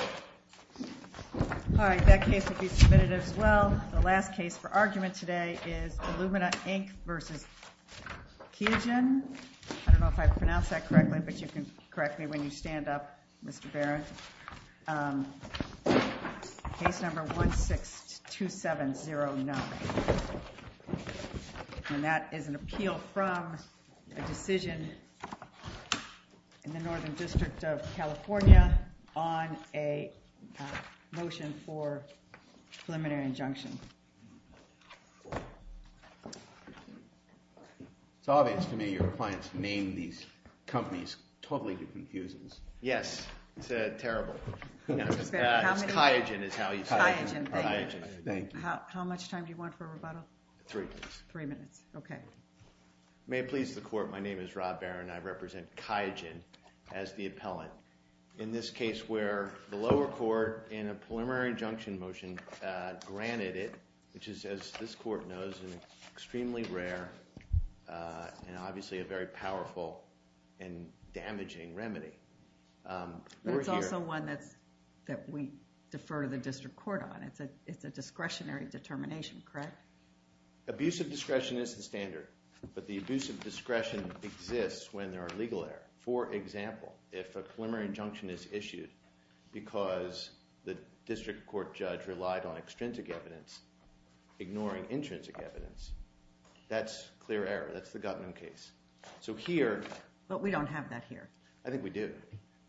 I don't know if I pronounced that correctly, but you can correct me when you stand up, Mr. Barron. Case number 162709, and that is an appeal from a decision in the Northern District of New York on a motion for preliminary injunction. It's obvious to me your clients name these companies totally confuses. Yes, it's terrible. QIAGEN is how you say it. QIAGEN. Thank you. How much time do you want for rebuttal? Three minutes. Three minutes. Okay. May it please the Court, my name is Rob Barron, I represent QIAGEN as the appellant. In this case where the lower court, in a preliminary injunction motion, granted it, which is, as this Court knows, an extremely rare and obviously a very powerful and damaging remedy. It's also one that we defer to the District Court on. It's a discretionary determination, correct? Abusive discretion is the standard, but the abusive discretion exists when there are legal errors. For example, if a preliminary injunction is issued because the District Court judge relied on extrinsic evidence, ignoring intrinsic evidence, that's clear error, that's the Gutman case. So here— But we don't have that here. I think we do.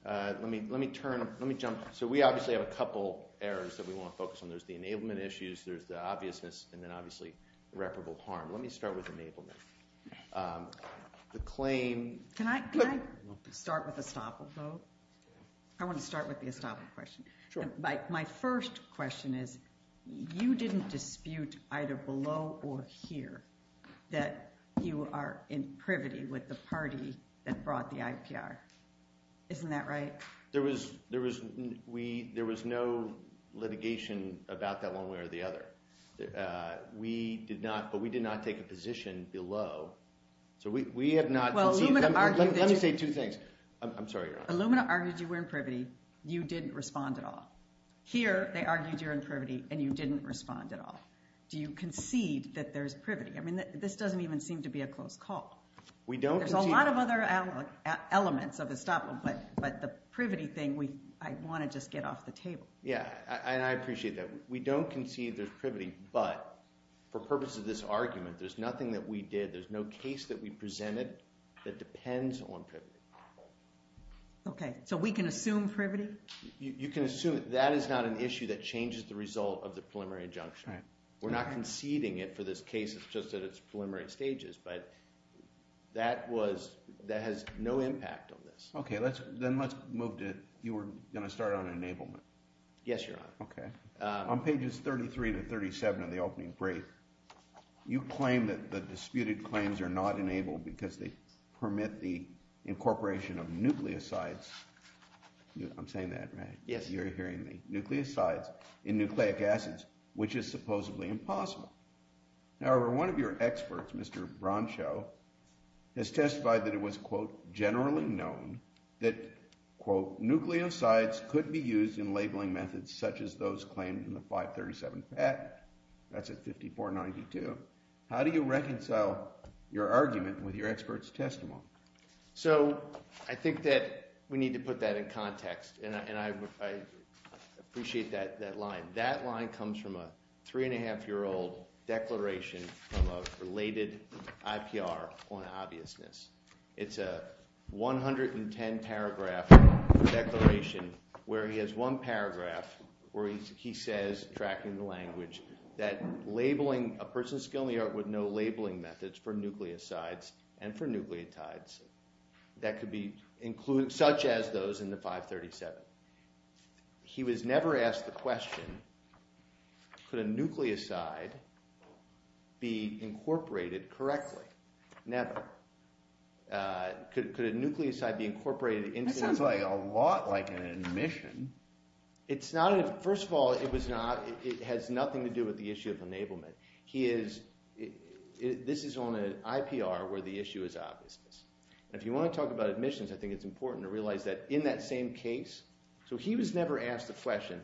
Let me jump—so we obviously have a couple errors that we want to focus on. There's the enablement issues, there's the obviousness, and then obviously irreparable harm. Let me start with enablement. The claim— Can I start with estoppel, though? I want to start with the estoppel question. Sure. My first question is, you didn't dispute either below or here that you are in privity with the party that brought the IPR. Isn't that right? There was no litigation about that one way or the other. We did not—but we did not take a position below. So we have not— Well, Illumina argued— Let me say two things. I'm sorry, Your Honor. Illumina argued you were in privity. You didn't respond at all. Here, they argued you're in privity, and you didn't respond at all. Do you concede that there's privity? I mean, this doesn't even seem to be a close call. We don't concede— There's a lot of other elements of estoppel, but the privity thing, I want to just get off the table. Yeah, and I appreciate that. We don't concede there's privity, but for purpose of this argument, there's nothing that we did. There's no case that we presented that depends on privity. Okay. So we can assume privity? You can assume—that is not an issue that changes the result of the preliminary injunction. We're not conceding it for this case. It's just that it's preliminary stages, but that has no impact on this. Okay. Then let's move to—you were going to start on enablement. Yes, Your Honor. Okay. On pages 33 to 37 of the opening brief, you claim that the disputed claims are not enabled because they permit the incorporation of nucleosides. I'm saying that, right? Yes. You're hearing me. Nucleosides in nucleic acids, which is supposedly impossible. However, one of your experts, Mr. Broncho, has testified that it was, quote, generally known that, quote, nucleosides could be used in labeling methods such as those claimed in the 537 patent. That's at 5492. How do you reconcile your argument with your expert's testimony? So, I think that we need to put that in context, and I appreciate that line. That line comes from a three-and-a-half-year-old declaration from a related IPR on obviousness. It's a 110-paragraph declaration where he has one paragraph where he says, tracking the language, that labeling—a person with skill in the art would know labeling methods for nucleosides and for nucleotides that could be—such as those in the 537. He was never asked the question, could a nucleoside be incorporated correctly? Never. Could a nucleoside be incorporated into— That sounds like a lot like an admission. It's not—first of all, it was not—it has nothing to do with the issue of enablement. He is—this is on an IPR where the issue is obviousness. And if you want to talk about admissions, I think it's important to realize that in that same case—so he was never asked the question,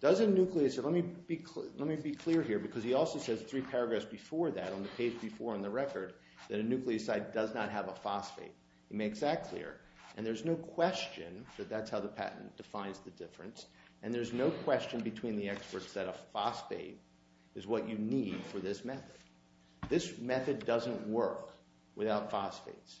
does a nucleoside—let me be clear here because he also says three paragraphs before that on the page before on the record that a nucleoside does not have a phosphate. He makes that clear. And there's no question that that's how the patent defines the difference, and there's no question between the experts that a phosphate is what you need for this method. This method doesn't work without phosphates.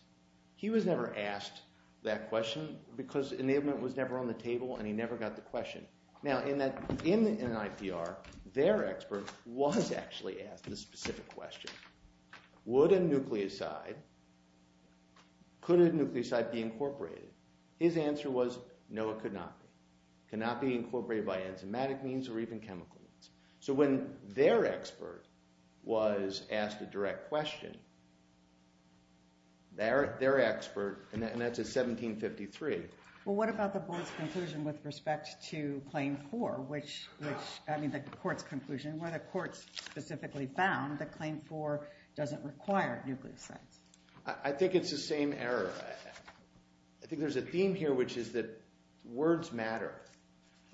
He was never asked that question because enablement was never on the table and he never got the question. Now, in that—in an IPR, their expert was actually asked a specific question. Would a nucleoside—could a nucleoside be incorporated? His answer was no, it could not be. It cannot be incorporated by enzymatic means or even chemical means. So when their expert was asked a direct question, their expert—and that's at 1753. Well, what about the board's conclusion with respect to Claim 4, which—I mean, the court's conclusion, where the court specifically found that Claim 4 doesn't require nucleosides? I think it's the same error. I think there's a theme here, which is that words matter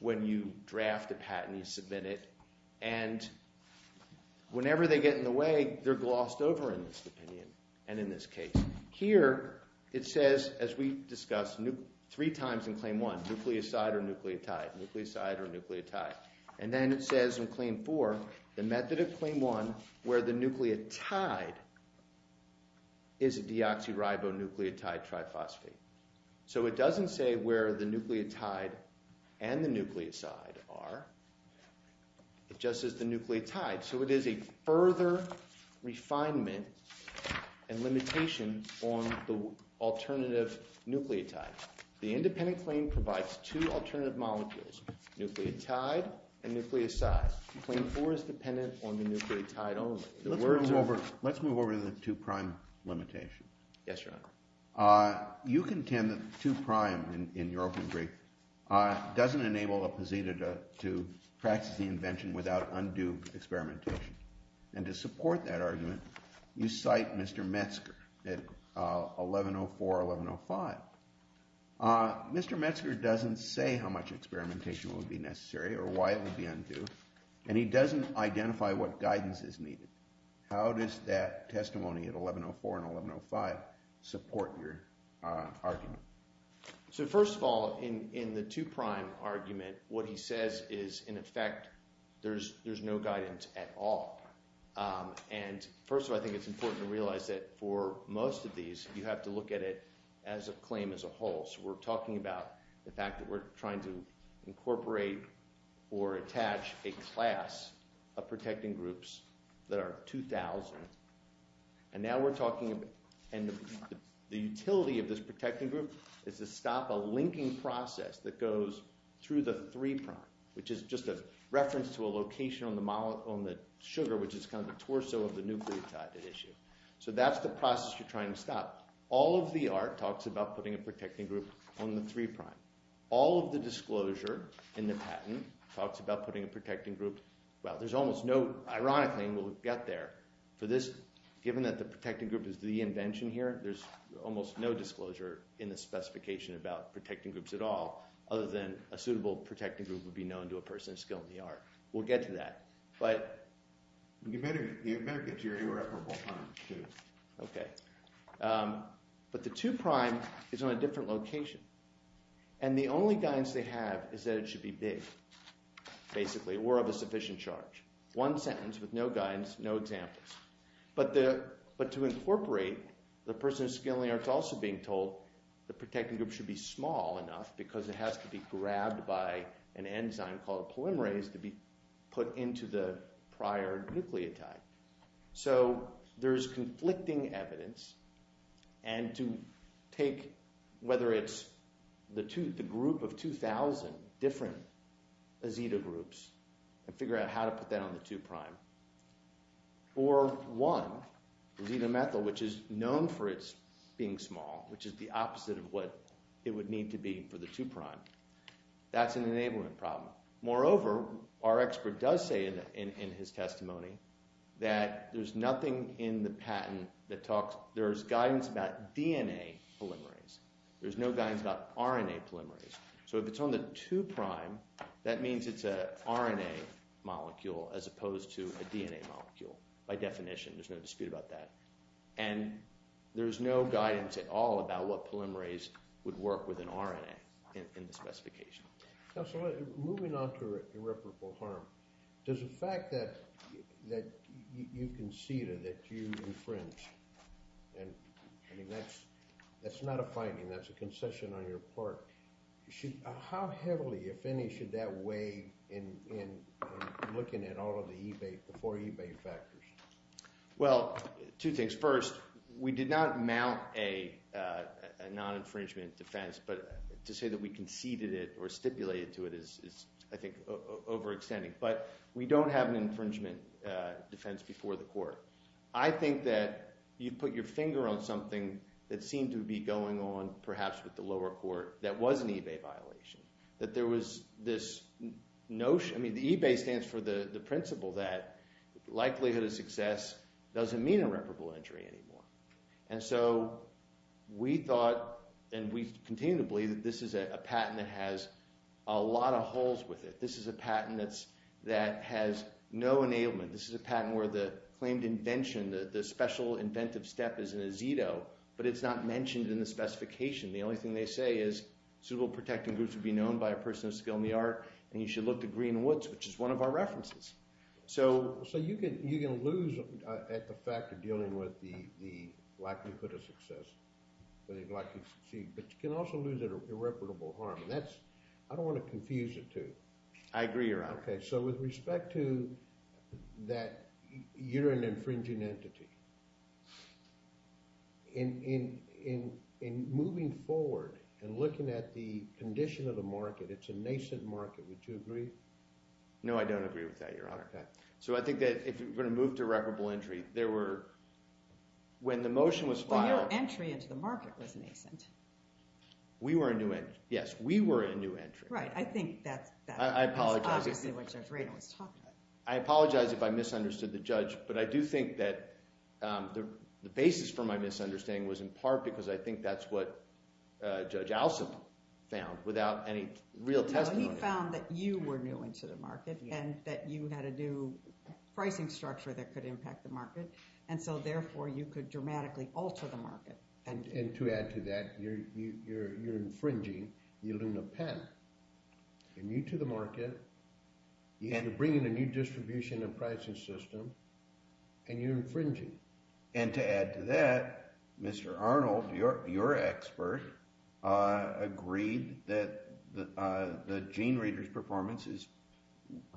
when you draft a patent, you submit it, and whenever they get in the way, they're glossed over in this opinion and in this case. Here, it says, as we discussed, three times in Claim 1, nucleoside or nucleotide, nucleoside or nucleotide. And then it says in Claim 4, the method of Claim 1 where the nucleotide is a deoxyribonucleotide triphosphate. So it doesn't say where the nucleotide and the nucleoside are. It just says the nucleotide. So it is a further refinement and limitation on the alternative nucleotide. The independent claim provides two alternative molecules, nucleotide and nucleoside. Claim 4 is dependent on the nucleotide only. Let's move over to the two-prime limitation. Yes, Your Honor. You contend that two-prime, in your open brief, doesn't enable a poseidon to practice the experimentation. And to support that argument, you cite Mr. Metzger at 1104, 1105. Mr. Metzger doesn't say how much experimentation would be necessary or why it would be undue, and he doesn't identify what guidance is needed. How does that testimony at 1104 and 1105 support your argument? So first of all, in the two-prime argument, what he says is, in effect, there's no guidance at all. And first of all, I think it's important to realize that for most of these, you have to look at it as a claim as a whole. So we're talking about the fact that we're trying to incorporate or attach a class of protecting groups that are 2,000. And now we're talking about the utility of this protecting group is to stop a linking process that goes through the three-prime, which is just a reference to a location on the sugar, which is kind of the torso of the nucleotide issue. So that's the process you're trying to stop. All of the art talks about putting a protecting group on the three-prime. All of the disclosure in the patent talks about putting a protecting group—well, there's almost no—ironically, we'll get there. For this, given that the protecting group is the invention here, there's almost no disclosure in the specification about protecting groups at all, other than a suitable protecting group would be known to a person of skill in the art. We'll get to that. But— You better get to your irreparable point, too. Okay. But the two-prime is on a different location. And the only guidance they have is that it should be big, basically, or of a sufficient charge. One sentence with no guidance, no examples. But to incorporate, the person of skill in the art is also being told the protecting group should be small enough because it has to be grabbed by an enzyme called polymerase to be put into the prior nucleotide. So there's conflicting evidence. And to take—whether it's the group of 2,000 different azeta groups and figure out how to put that on the two-prime, or one, azetamethyl, which is known for its being small, which is the opposite of what it would need to be for the two-prime. That's an enablement problem. Moreover, our expert does say in his testimony that there's nothing in the patent that talks—there's guidance about DNA polymerase. There's no guidance about RNA polymerase. So if it's on the two-prime, that means it's an RNA molecule as opposed to a DNA molecule by definition. There's no dispute about that. And there's no guidance at all about what polymerase would work with an RNA in the specification. So moving on to irreparable harm, there's a fact that you conceded that you infringed. I mean, that's not a finding. That's a concession on your part. How heavily, if any, should that weigh in looking at all of the eBay—the four eBay factors? Well, two things. First, we did not mount a non-infringement defense, but to say that we conceded it or stipulated to it is, I think, overextending. But we don't have an infringement defense before the court. I think that you put your finger on something that seemed to be going on perhaps with the lower court that was an eBay violation, that there was this notion—I mean, the eBay stands for the principle that likelihood of success doesn't mean irreparable injury anymore. And so we thought, and we continue to believe, that this is a patent that has a lot of holes with it. This is a patent that has no enablement. This is a patent where the claimed invention, the special inventive step, is in a Zito, but it's not mentioned in the specification. The only thing they say is, suitable protecting groups would be known by a person of skill and the art, and you should look to Greenwoods, which is one of our references. So you can lose at the fact of dealing with the likelihood of success, but you can also lose at irreparable harm. I don't want to confuse the two. I agree, Your Honor. Okay. So with respect to that you're an infringing entity, in moving forward and looking at the nascent market, would you agree? No, I don't agree with that, Your Honor. Okay. So I think that if we're going to move to irreparable injury, there were—when the motion was filed— But your entry into the market was nascent. We were a new entry. Yes, we were a new entry. Right. I think that's— I apologize. —obviously what Judge Radin was talking about. I apologize if I misunderstood the judge, but I do think that the basis for my misunderstanding was in part because I think that's what Judge Alsop found without any real testimony. No, he found that you were new into the market and that you had a new pricing structure that could impact the market, and so therefore you could dramatically alter the market. And to add to that, you're infringing. You loon a pen. You're new to the market. You end up bringing a new distribution and pricing system, and you're infringing. And to add to that, Mr. Arnold, your expert, agreed that the GeneReader's performance is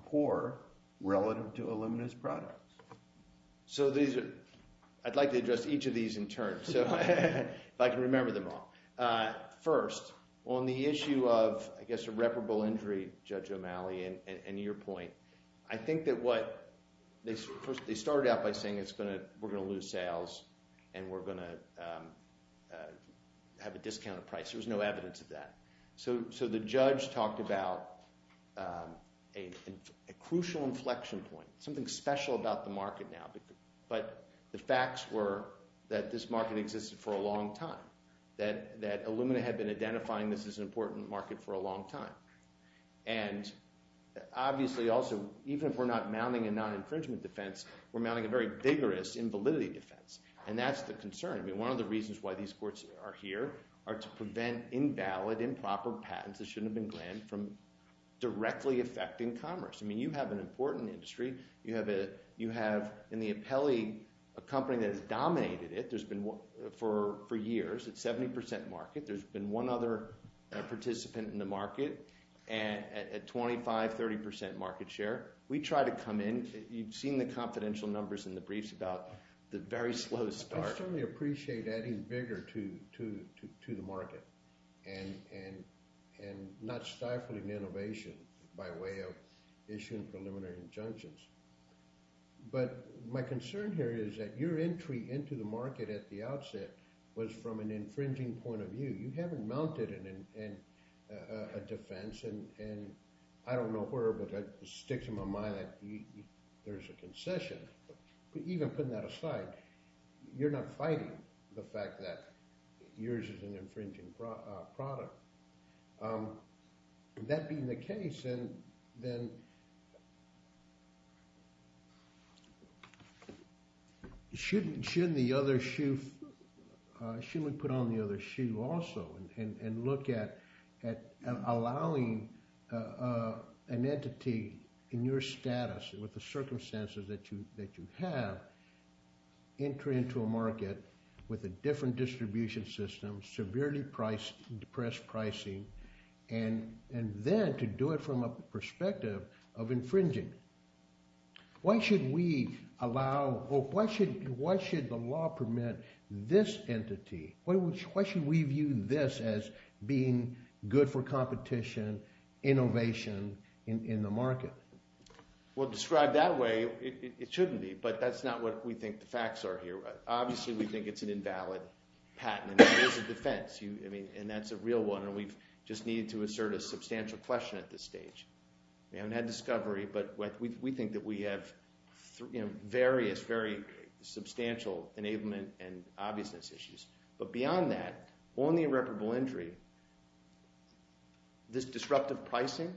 poor relative to Illumina's products. So these are—I'd like to address each of these in turn, if I can remember them all. First, on the issue of, I guess, irreparable injury, Judge O'Malley, and your point, I think that what—they started out by saying it's going to—we're going to lose sales and we're going to have a discounted price. There was no evidence of that. So the judge talked about a crucial inflection point, something special about the market now. But the facts were that this market existed for a long time, that Illumina had been identifying this as an important market for a long time. And obviously, also, even if we're not mounting a non-infringement defense, we're mounting a very vigorous invalidity defense. And that's the concern. I mean, one of the reasons why these courts are here are to prevent invalid, improper patents that shouldn't have been granted from directly affecting commerce. I mean, you have an important industry. You have, in the appellee, a company that has dominated it for years. It's 70 percent market. There's been one other participant in the market at 25, 30 percent market share. We try to come in. You've seen the confidential numbers in the briefs about the very slow start. I certainly appreciate adding vigor to the market and not stifling innovation by way of issuing preliminary injunctions. But my concern here is that your entry into the market at the outset was from an infringing point of view. You haven't mounted a defense. And I don't know where, but it sticks in my mind that there's a concession. But even putting that aside, you're not fighting the fact that yours is an infringing product. That being the case, then shouldn't we put on the other shoe also and look at allowing an entity in your status with the circumstances that you have to enter into a market with a different distribution system, severely depressed pricing, and then to do it from a perspective of infringing? Why should we allow or why should the law permit this entity? Why should we view this as being good for competition, innovation in the market? Well, described that way, it shouldn't be. But that's not what we think the facts are here. Obviously, we think it's an invalid patent. It is a defense, and that's a real one. And we just need to assert a substantial question at this stage. We haven't had discovery, but we think that we have various, very substantial enablement and obviousness issues. But beyond that, on the irreparable injury, this disruptive pricing,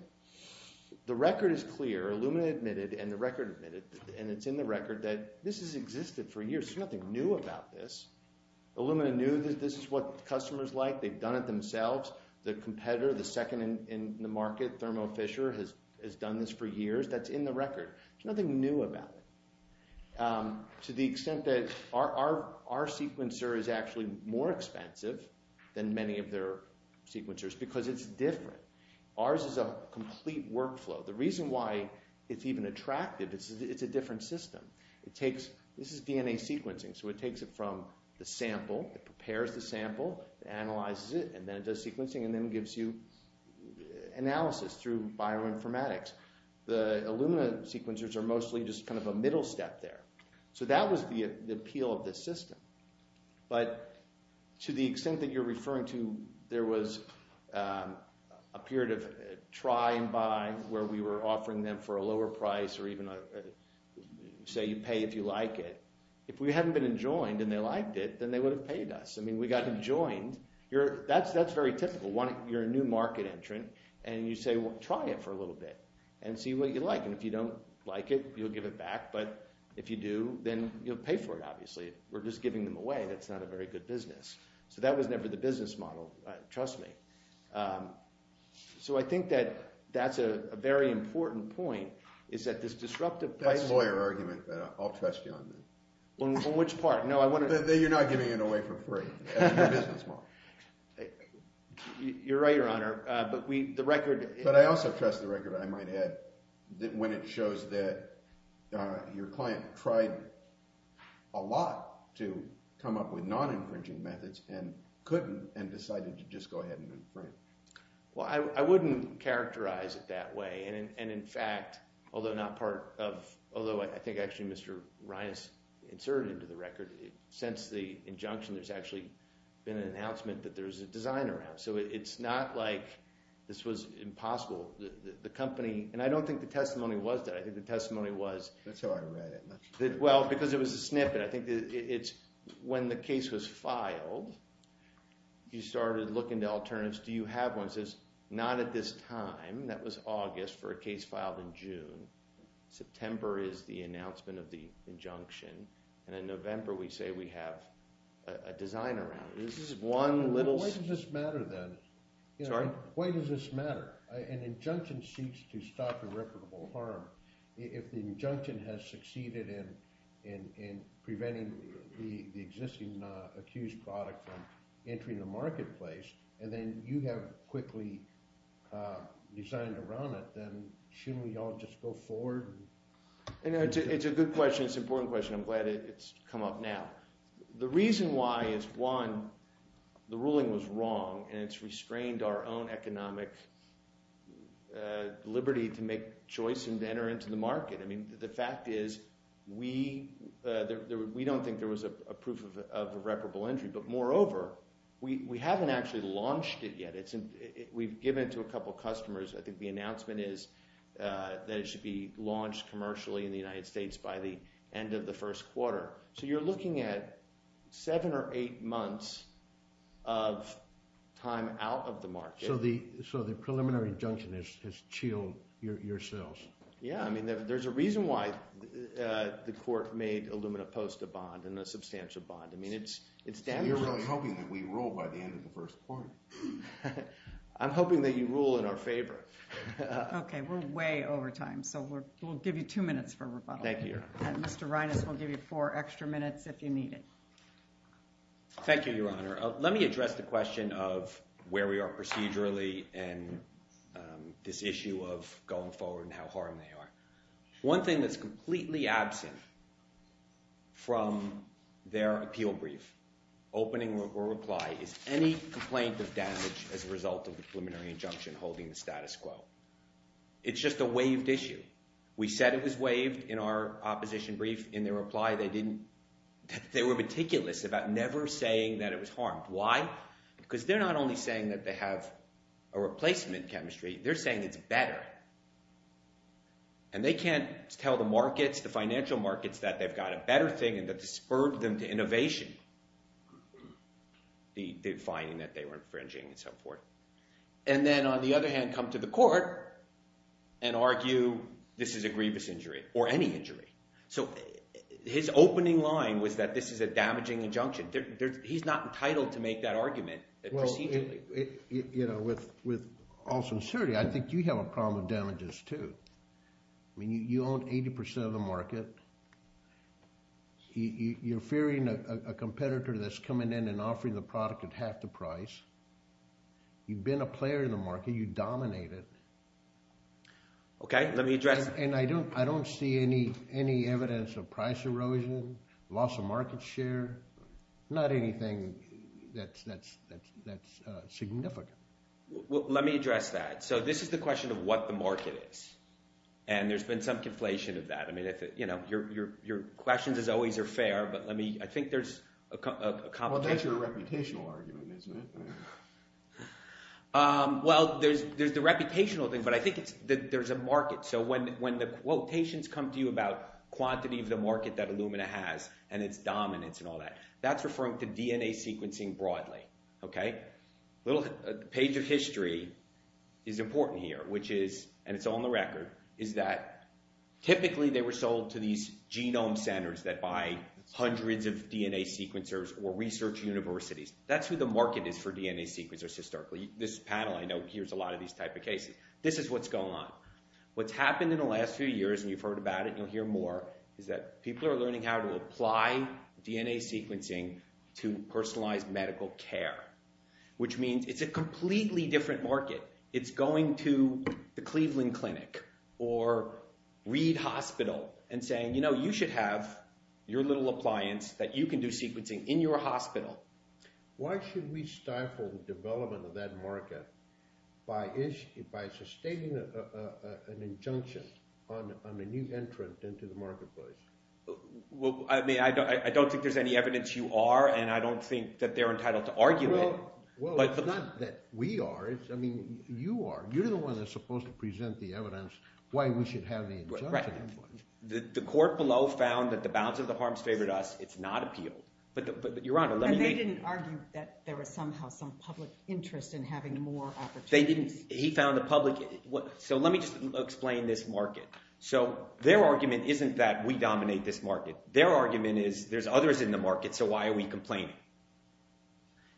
the record is clear. Illumina admitted, and the record admitted, and it's in the record, that this has existed for years. There's nothing new about this. Illumina knew that this is what customers like. They've done it themselves. The competitor, the second in the market, Thermo Fisher, has done this for years. That's in the record. There's nothing new about it to the extent that our sequencer is actually more expensive than many of their sequencers because it's different. Ours is a complete workflow. The reason why it's even attractive is it's a different system. This is DNA sequencing, so it takes it from the sample. It prepares the sample, analyzes it, and then it does sequencing and then gives you analysis through bioinformatics. The Illumina sequencers are mostly just kind of a middle step there. So that was the appeal of this system. But to the extent that you're referring to, there was a period of try and buy where we were offering them for a lower price or even say you pay if you like it. If we hadn't been enjoined and they liked it, then they would have paid us. I mean we got enjoined. That's very typical. You're a new market entrant, and you say, well, try it for a little bit and see what you like, and if you don't like it, you'll give it back. But if you do, then you'll pay for it, obviously. We're just giving them away. That's not a very good business. So that was never the business model, trust me. So I think that that's a very important point is that this disruptive pricing— That's a lawyer argument, but I'll trust you on that. On which part? No, I want to— That you're not giving it away for free. That's the business model. You're right, Your Honor, but the record— to come up with non-infringing methods and couldn't and decided to just go ahead and infringe. Well, I wouldn't characterize it that way. And in fact, although not part of— although I think actually Mr. Reines inserted into the record, since the injunction there's actually been an announcement that there's a design around. So it's not like this was impossible. The company—and I don't think the testimony was that. I think the testimony was— That's how I read it. Well, because it was a snippet. I think it's when the case was filed, you started looking to alternatives. Do you have one? It says, not at this time. That was August for a case filed in June. September is the announcement of the injunction. And in November, we say we have a design around it. This is one little— Why does this matter, then? Sorry? Why does this matter? An injunction seeks to stop irreparable harm. If the injunction has succeeded in preventing the existing accused product from entering the marketplace, and then you have quickly designed around it, then shouldn't we all just go forward? It's a good question. It's an important question. I'm glad it's come up now. The reason why is, one, the ruling was wrong, and it's restrained our own economic liberty to make a choice and enter into the market. I mean, the fact is we don't think there was a proof of irreparable injury. But moreover, we haven't actually launched it yet. We've given it to a couple of customers. I think the announcement is that it should be launched commercially in the United States by the end of the first quarter. So you're looking at seven or eight months of time out of the market. So the preliminary injunction has chilled yourselves. Yeah. I mean, there's a reason why the court made Illumina Post a bond and a substantial bond. I mean, it's damaging. So you're really hoping that we rule by the end of the first quarter? I'm hoping that you rule in our favor. Okay. We're way over time, so we'll give you two minutes for rebuttal. Thank you. Mr. Reines will give you four extra minutes if you need it. Thank you, Your Honor. Let me address the question of where we are procedurally and this issue of going forward and how hard they are. One thing that's completely absent from their appeal brief, opening reply, is any complaint of damage as a result of the preliminary injunction holding the status quo. It's just a waived issue. We said it was waived in our opposition brief. In their reply, they were meticulous about never saying that it was harmed. Why? Because they're not only saying that they have a replacement chemistry. They're saying it's better, and they can't tell the markets, the financial markets, that they've got a better thing and that this spurred them to innovation, the finding that they were infringing and so forth. And then, on the other hand, come to the court and argue this is a grievous injury or any injury. So his opening line was that this is a damaging injunction. He's not entitled to make that argument procedurally. With all sincerity, I think you have a problem with damages too. You're fearing a competitor that's coming in and offering the product at half the price. You've been a player in the market. You dominate it. Okay, let me address— And I don't see any evidence of price erosion, loss of market share, not anything that's significant. Let me address that. So this is the question of what the market is, and there's been some conflation of that. Your questions, as always, are fair, but let me—I think there's a complication. Well, that's your reputational argument, isn't it? Well, there's the reputational thing, but I think there's a market. So when the quotations come to you about quantity of the market that Illumina has and its dominance and all that, that's referring to DNA sequencing broadly. A little page of history is important here, which is—and it's on the record— is that typically they were sold to these genome centers that buy hundreds of DNA sequencers or research universities. That's who the market is for DNA sequencers historically. This panel, I know, hears a lot of these type of cases. This is what's going on. What's happened in the last few years, and you've heard about it and you'll hear more, is that people are learning how to apply DNA sequencing to personalized medical care, which means it's a completely different market. It's going to the Cleveland Clinic or Reed Hospital and saying, you know, you should have your little appliance that you can do sequencing in your hospital. Why should we stifle the development of that market by sustaining an injunction on a new entrant into the marketplace? Well, I mean, I don't think there's any evidence you are, and I don't think that they're entitled to argue it. Well, it's not that we are. I mean, you are. You're the one that's supposed to present the evidence why we should have the injunction. Right. The court below found that the bounds of the harms favored us. It's not appealed. But, Your Honor, let me make— And they didn't argue that there was somehow some public interest in having more opportunities. They didn't. He found the public—so let me just explain this market. So their argument isn't that we dominate this market. Their argument is there's others in the market, so why are we complaining?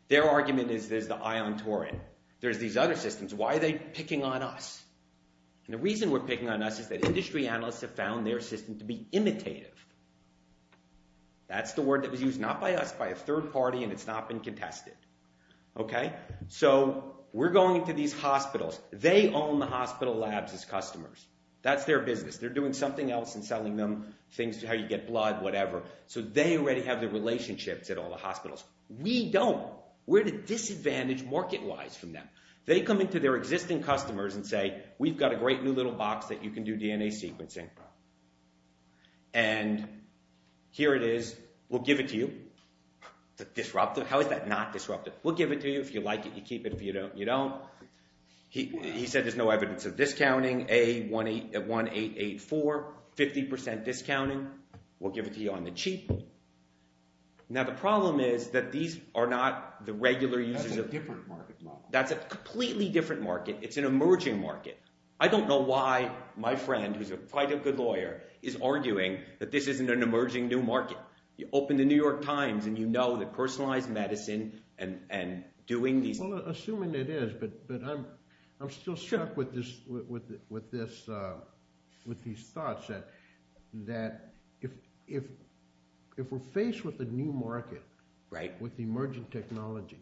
Their argument is there's the Ion Torrent. There's these other systems. Why are they picking on us? And the reason we're picking on us is that industry analysts have found their system to be imitative. That's the word that was used, not by us, by a third party, and it's not been contested. Okay, so we're going to these hospitals. They own the hospital labs as customers. That's their business. They're doing something else and selling them things, how you get blood, whatever. So they already have the relationships at all the hospitals. We don't. We're at a disadvantage market-wise from them. They come in to their existing customers and say, We've got a great new little box that you can do DNA sequencing. And here it is. We'll give it to you. Disruptive? How is that not disruptive? We'll give it to you if you like it. You keep it if you don't. You don't. He said there's no evidence of discounting. A1884, 50% discounting. We'll give it to you on the cheap. Now the problem is that these are not the regular uses of— That's a different market model. That's a completely different market. It's an emerging market. I don't know why my friend, who's quite a good lawyer, is arguing that this isn't an emerging new market. You open the New York Times and you know that personalized medicine and doing these— If we're faced with a new market with emerging technology,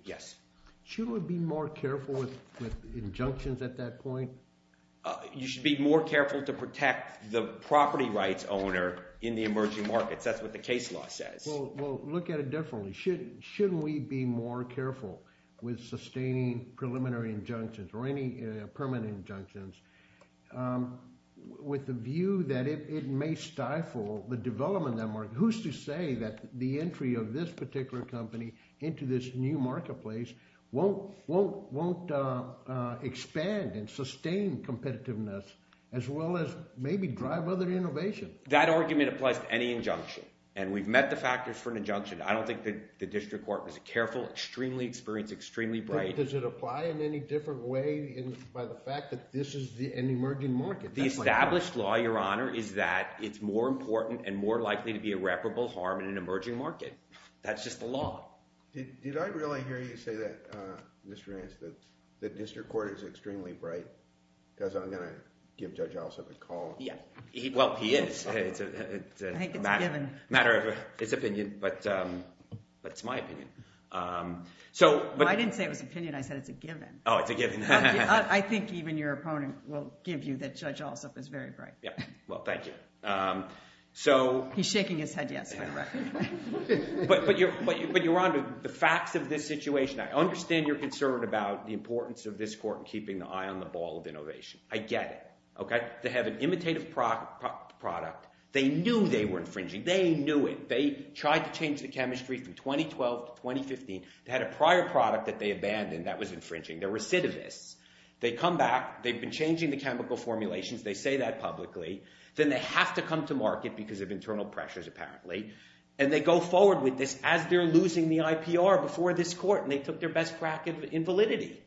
shouldn't we be more careful with injunctions at that point? You should be more careful to protect the property rights owner in the emerging markets. That's what the case law says. Well, look at it differently. Shouldn't we be more careful with sustaining preliminary injunctions or any permanent injunctions with the view that it may stifle the development of that market? Who's to say that the entry of this particular company into this new marketplace won't expand and sustain competitiveness as well as maybe drive other innovation? That argument applies to any injunction, and we've met the factors for an injunction. I don't think the district court was careful, extremely experienced, extremely bright. Does it apply in any different way by the fact that this is an emerging market? The established law, Your Honor, is that it's more important and more likely to be irreparable harm in an emerging market. That's just the law. Did I really hear you say that, Mr. Rance, that the district court is extremely bright? Because I'm going to give Judge Alsop a call. Well, he is. It's a matter of his opinion, but it's my opinion. I didn't say it was opinion. I said it's a given. Oh, it's a given. I think even your opponent will give you that Judge Alsop is very bright. Well, thank you. He's shaking his head yes, for the record. But Your Honor, the facts of this situation, I understand your concern about the importance of this court in keeping the eye on the ball of innovation. I get it. They have an imitative product. They knew they were infringing. They knew it. They tried to change the chemistry from 2012 to 2015. They had a prior product that they abandoned that was infringing. They're recidivists. They come back. They've been changing the chemical formulations. They say that publicly. Then they have to come to market because of internal pressures, apparently, and they go forward with this as they're losing the IPR before this court, and they took their best crack at invalidity.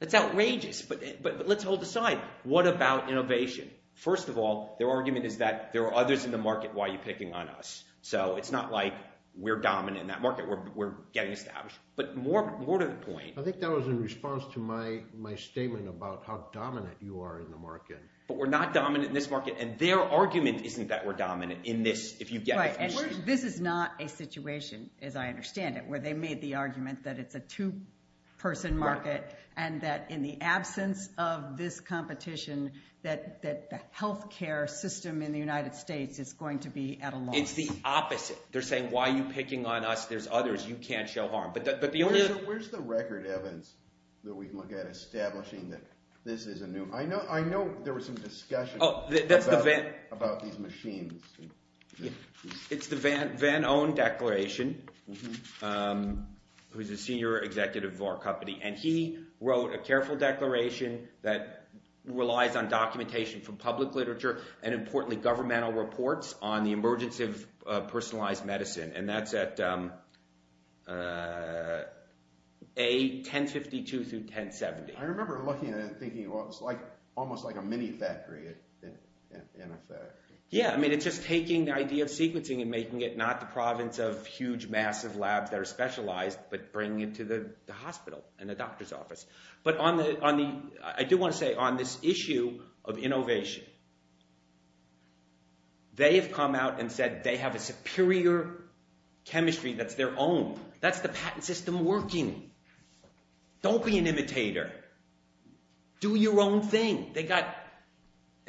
That's outrageous, but let's hold aside. What about innovation? First of all, their argument is that there are others in the market. Why are you picking on us? So it's not like we're dominant in that market. We're getting established. But more to the point. I think that was in response to my statement about how dominant you are in the market. But we're not dominant in this market, and their argument isn't that we're dominant in this. Right, and this is not a situation, as I understand it, where they made the argument that it's a two-person market and that in the absence of this competition, that the health care system in the United States is going to be at a loss. It's the opposite. They're saying why are you picking on us? There's others. You can't show harm. Where's the record, Evans, that we can look at establishing that this is a new? I know there was some discussion about these machines. It's the Van Own Declaration, who's the senior executive of our company, and he wrote a careful declaration that relies on documentation from public literature and, importantly, governmental reports on the emergence of personalized medicine, and that's at A, 1052 through 1070. I remember looking at it and thinking, well, it's almost like a mini factory, in effect. Yeah, I mean it's just taking the idea of sequencing and making it not the province of huge, massive labs that are specialized, but bringing it to the hospital and the doctor's office. But I do want to say on this issue of innovation, they have come out and said they have a superior chemistry that's their own. That's the patent system working. Don't be an imitator. Do your own thing.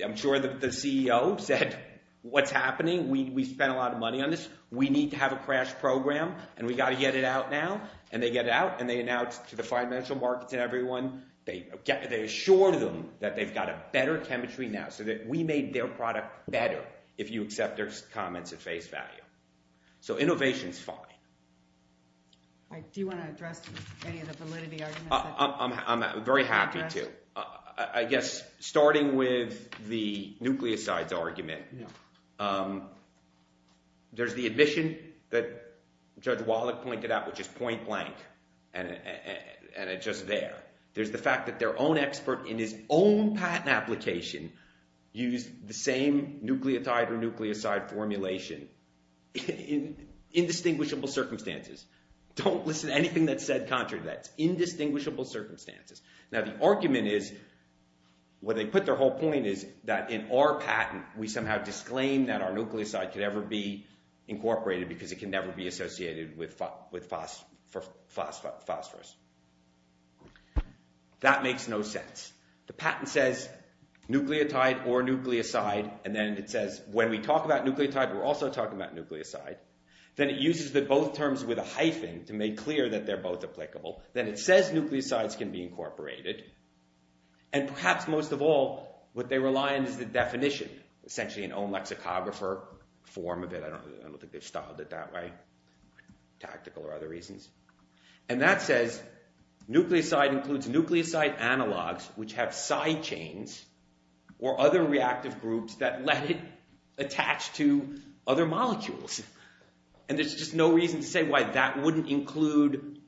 I'm sure the CEO said, what's happening? We spent a lot of money on this. We need to have a crash program, and we've got to get it out now. And they get it out, and they announce it to the financial markets and everyone. They assure them that they've got a better chemistry now, so that we made their product better if you accept their comments at face value. So innovation is fine. Do you want to address any of the validity arguments? I'm very happy to. I guess starting with the nucleosides argument, there's the admission that Judge Wallach pointed out, which is point blank, and it's just there. There's the fact that their own expert in his own patent application used the same nucleotide or nucleoside formulation in indistinguishable circumstances. Don't listen to anything that's said contrary to that. It's indistinguishable circumstances. Now the argument is, what they put their whole point is, that in our patent we somehow disclaim that our nucleoside could ever be incorporated because it can never be associated with phosphorus. That makes no sense. The patent says nucleotide or nucleoside, and then it says when we talk about nucleotide, we're also talking about nucleoside. Then it uses both terms with a hyphen to make clear that they're both applicable. Then it says nucleosides can be incorporated, and perhaps most of all what they rely on is the definition, essentially in own lexicographer form of it. I don't think they've styled it that way, tactical or other reasons. And that says nucleoside includes nucleoside analogs which have side chains or other reactive groups that let it attach to other molecules. And there's just no reason to say why that wouldn't include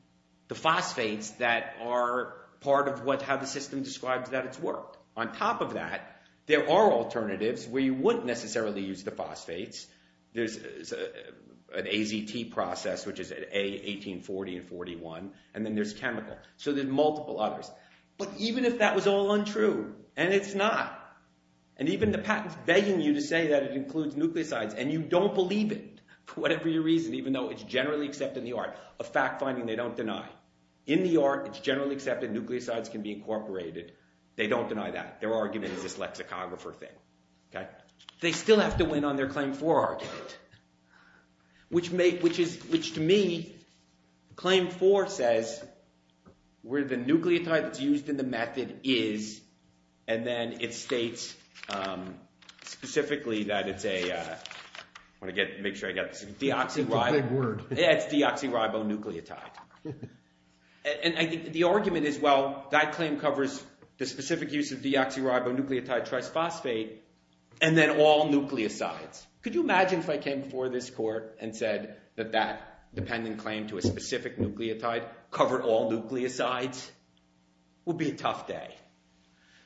the phosphates that are part of how the system describes that it's worked. On top of that, there are alternatives where you wouldn't necessarily use the phosphates. There's an AZT process which is A1840 and 41, and then there's chemical. So there's multiple others. But even if that was all untrue, and it's not, and even the patent's begging you to say that it includes nucleosides and you don't believe it, for whatever reason, even though it's generally accepted in the art of fact-finding, they don't deny. In the art, it's generally accepted nucleosides can be incorporated. They don't deny that. Their argument is this lexicographer thing. They still have to win on their Claim 4 argument, which to me, Claim 4 says where the nucleotide that's used in the method is, and then it states specifically that it's a deoxyribonucleotide. And the argument is, well, that claim covers the specific use of deoxyribonucleotide trisphosphate and then all nucleosides. Could you imagine if I came before this court and said that that dependent claim to a specific nucleotide covered all nucleosides? That would be a tough day.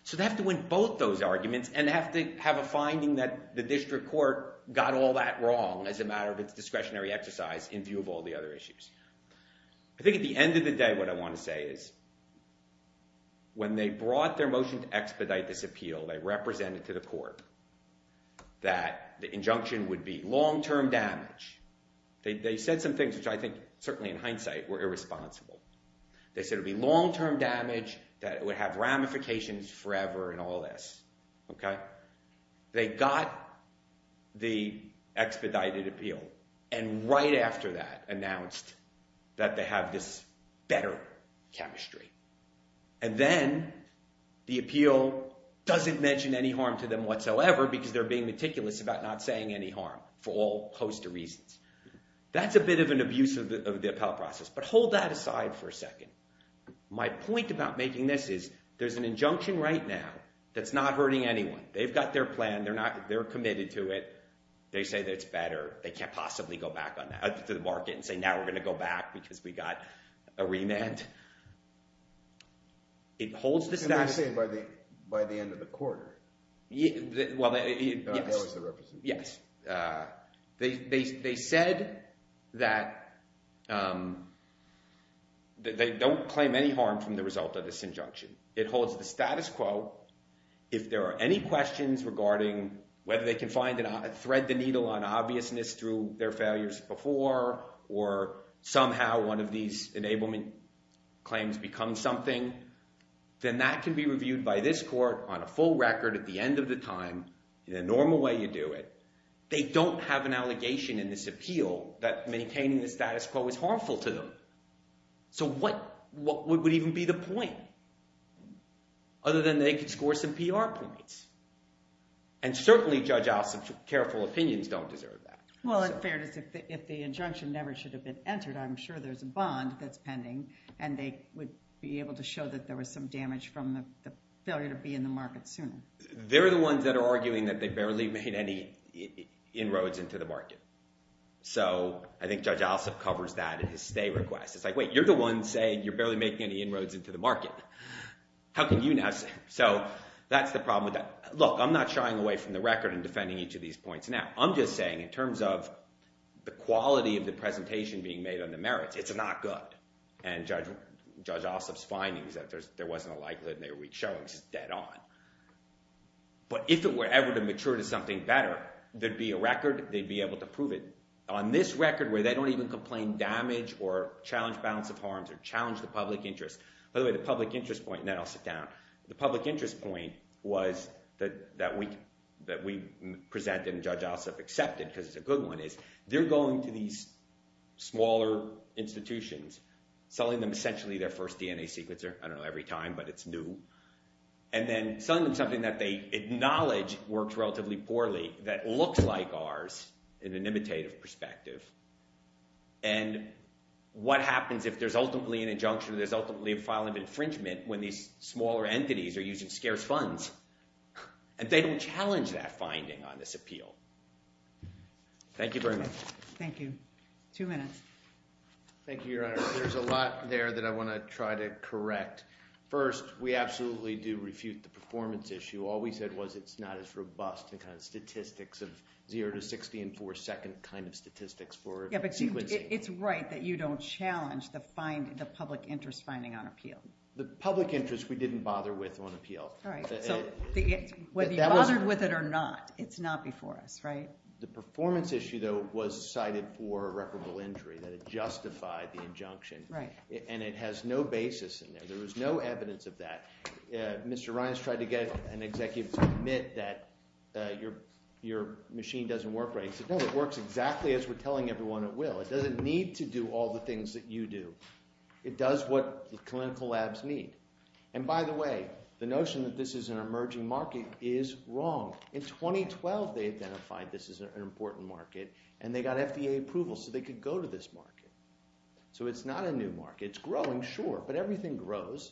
So they have to win both those arguments, and they have to have a finding that the district court got all that wrong as a matter of its discretionary exercise in view of all the other issues. I think at the end of the day, what I want to say is, when they brought their motion to expedite this appeal, they represented to the court that the injunction would be long-term damage. They said some things which I think, certainly in hindsight, were irresponsible. They said it would be long-term damage, that it would have ramifications forever and all this. They got the expedited appeal, and right after that announced that they have this better chemistry. And then the appeal doesn't mention any harm to them whatsoever because they're being meticulous about not saying any harm for all host of reasons. That's a bit of an abuse of the appellate process. But hold that aside for a second. My point about making this is, there's an injunction right now that's not hurting anyone. They've got their plan. They're committed to it. They say that it's better. They can't possibly go back to the market and say, now we're going to go back because we got a remand. It holds the statute. Can they say by the end of the quarter? Well, yes. That was the representation. They said that they don't claim any harm from the result of this injunction. It holds the status quo. If there are any questions regarding whether they can thread the needle on obviousness through their failures before or somehow one of these enablement claims becomes something, then that can be reviewed by this court on a full record at the end of the time. In a normal way, you do it. They don't have an allegation in this appeal that maintaining the status quo is harmful to them. So what would even be the point? Other than they could score some PR points. And certainly Judge Ossoff's careful opinions don't deserve that. Well, at fairness, if the injunction never should have been entered, I'm sure there's a bond that's pending, and they would be able to show that there was some damage from the failure to be in the market sooner. They're the ones that are arguing that they barely made any inroads into the market. So I think Judge Ossoff covers that in his stay request. It's like, wait, you're the one saying you're barely making any inroads into the market. How can you now say that? So that's the problem with that. Look, I'm not shying away from the record and defending each of these points now. I'm just saying in terms of the quality of the presentation being made on the merits, it's not good. And Judge Ossoff's findings that there wasn't a likelihood and they were weak showings is dead on. But if it were ever to mature to something better, there'd be a record. They'd be able to prove it. On this record where they don't even complain damage or challenge balance of harms or challenge the public interest – by the way, the public interest point – and then I'll sit down. The public interest point was that we presented and Judge Ossoff accepted because it's a good one is they're going to these smaller institutions, selling them essentially their first DNA sequencer. I don't know every time, but it's new. And then selling them something that they acknowledge works relatively poorly that looks like ours in an imitative perspective. And what happens if there's ultimately an injunction or there's ultimately a file of infringement when these smaller entities are using scarce funds? And they don't challenge that finding on this appeal. Thank you very much. Thank you. Two minutes. Thank you, Your Honor. There's a lot there that I want to try to correct. First, we absolutely do refute the performance issue. All we said was it's not as robust in kind of statistics of 0 to 60 in four-second kind of statistics for sequencing. Yeah, but it's right that you don't challenge the public interest finding on appeal. The public interest we didn't bother with on appeal. All right, so whether you bothered with it or not, it's not before us, right? The performance issue, though, was cited for a recordable injury that had justified the injunction, and it has no basis in there. There was no evidence of that. Mr. Ryan has tried to get an executive to admit that your machine doesn't work right. He said, no, it works exactly as we're telling everyone it will. It doesn't need to do all the things that you do. It does what the clinical labs need. And, by the way, the notion that this is an emerging market is wrong. In 2012, they identified this as an important market, and they got FDA approval so they could go to this market. So it's not a new market. It's growing, sure, but everything grows,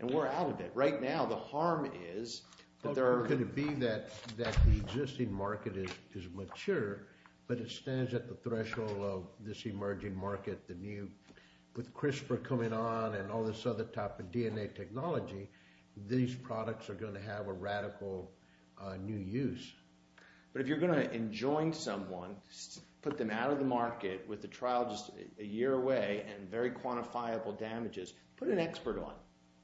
and we're out of it. Right now, the harm is that there are going to be that the existing market is mature, but it stands at the threshold of this emerging market, the new. With CRISPR coming on and all this other type of DNA technology, these products are going to have a radical new use. But if you're going to enjoin someone, put them out of the market with a trial just a year away and very quantifiable damages, put an expert on.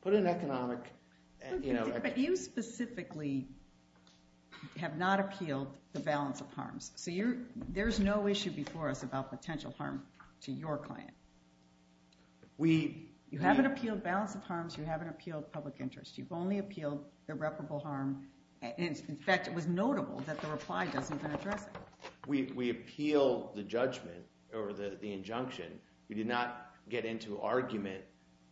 Put an economic, you know. But you specifically have not appealed the balance of harms. So there's no issue before us about potential harm to your client. You haven't appealed balance of harms. You haven't appealed public interest. You've only appealed irreparable harm. In fact, it was notable that the reply doesn't even address it. We appeal the judgment or the injunction. We did not get into argument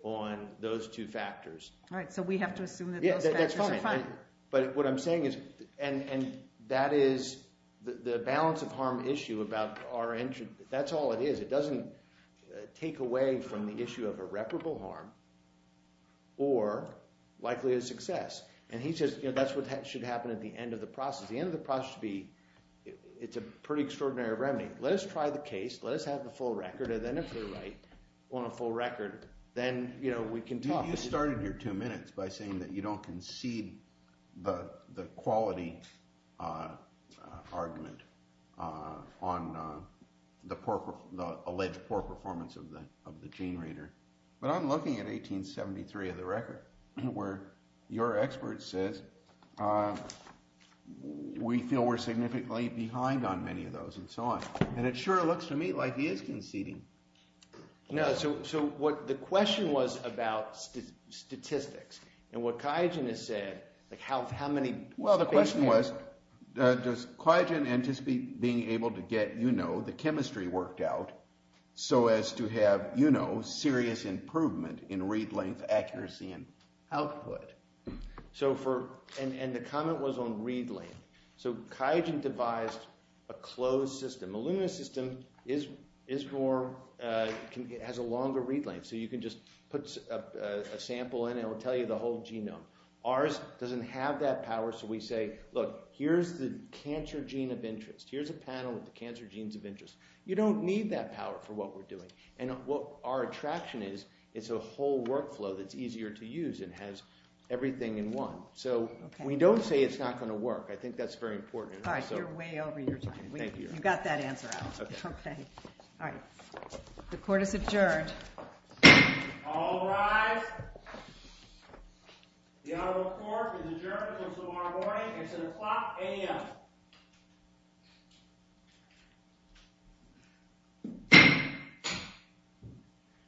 on those two factors. Right, so we have to assume that those factors are fine. But what I'm saying is – and that is the balance of harm issue about our – that's all it is. It doesn't take away from the issue of irreparable harm or likelihood of success. And he says that's what should happen at the end of the process. The end of the process should be – it's a pretty extraordinary remedy. Let us try the case. Let us have the full record. And then if we're right on a full record, then we can talk. You started your two minutes by saying that you don't concede the quality argument on the alleged poor performance of the gene reader. But I'm looking at 1873 of the record where your expert says we feel we're significantly behind on many of those and so on. And it sure looks to me like he is conceding. No, so what – the question was about statistics. And what Kyogen has said, like how many – Well, the question was does Kyogen anticipate being able to get the chemistry worked out so as to have serious improvement in read length, accuracy, and output? So for – and the comment was on read length. So Kyogen devised a closed system. Illumina's system is more – has a longer read length. So you can just put a sample in and it will tell you the whole genome. Ours doesn't have that power. So we say, look, here's the cancer gene of interest. Here's a panel with the cancer genes of interest. You don't need that power for what we're doing. And what our attraction is, it's a whole workflow that's easier to use and has everything in one. So we don't say it's not going to work. I think that's very important. All right, you're way over your time. Thank you. You got that answer out. Okay. All right. The court is adjourned. All rise. The honorable court is adjourned until tomorrow morning. It's at o'clock a.m.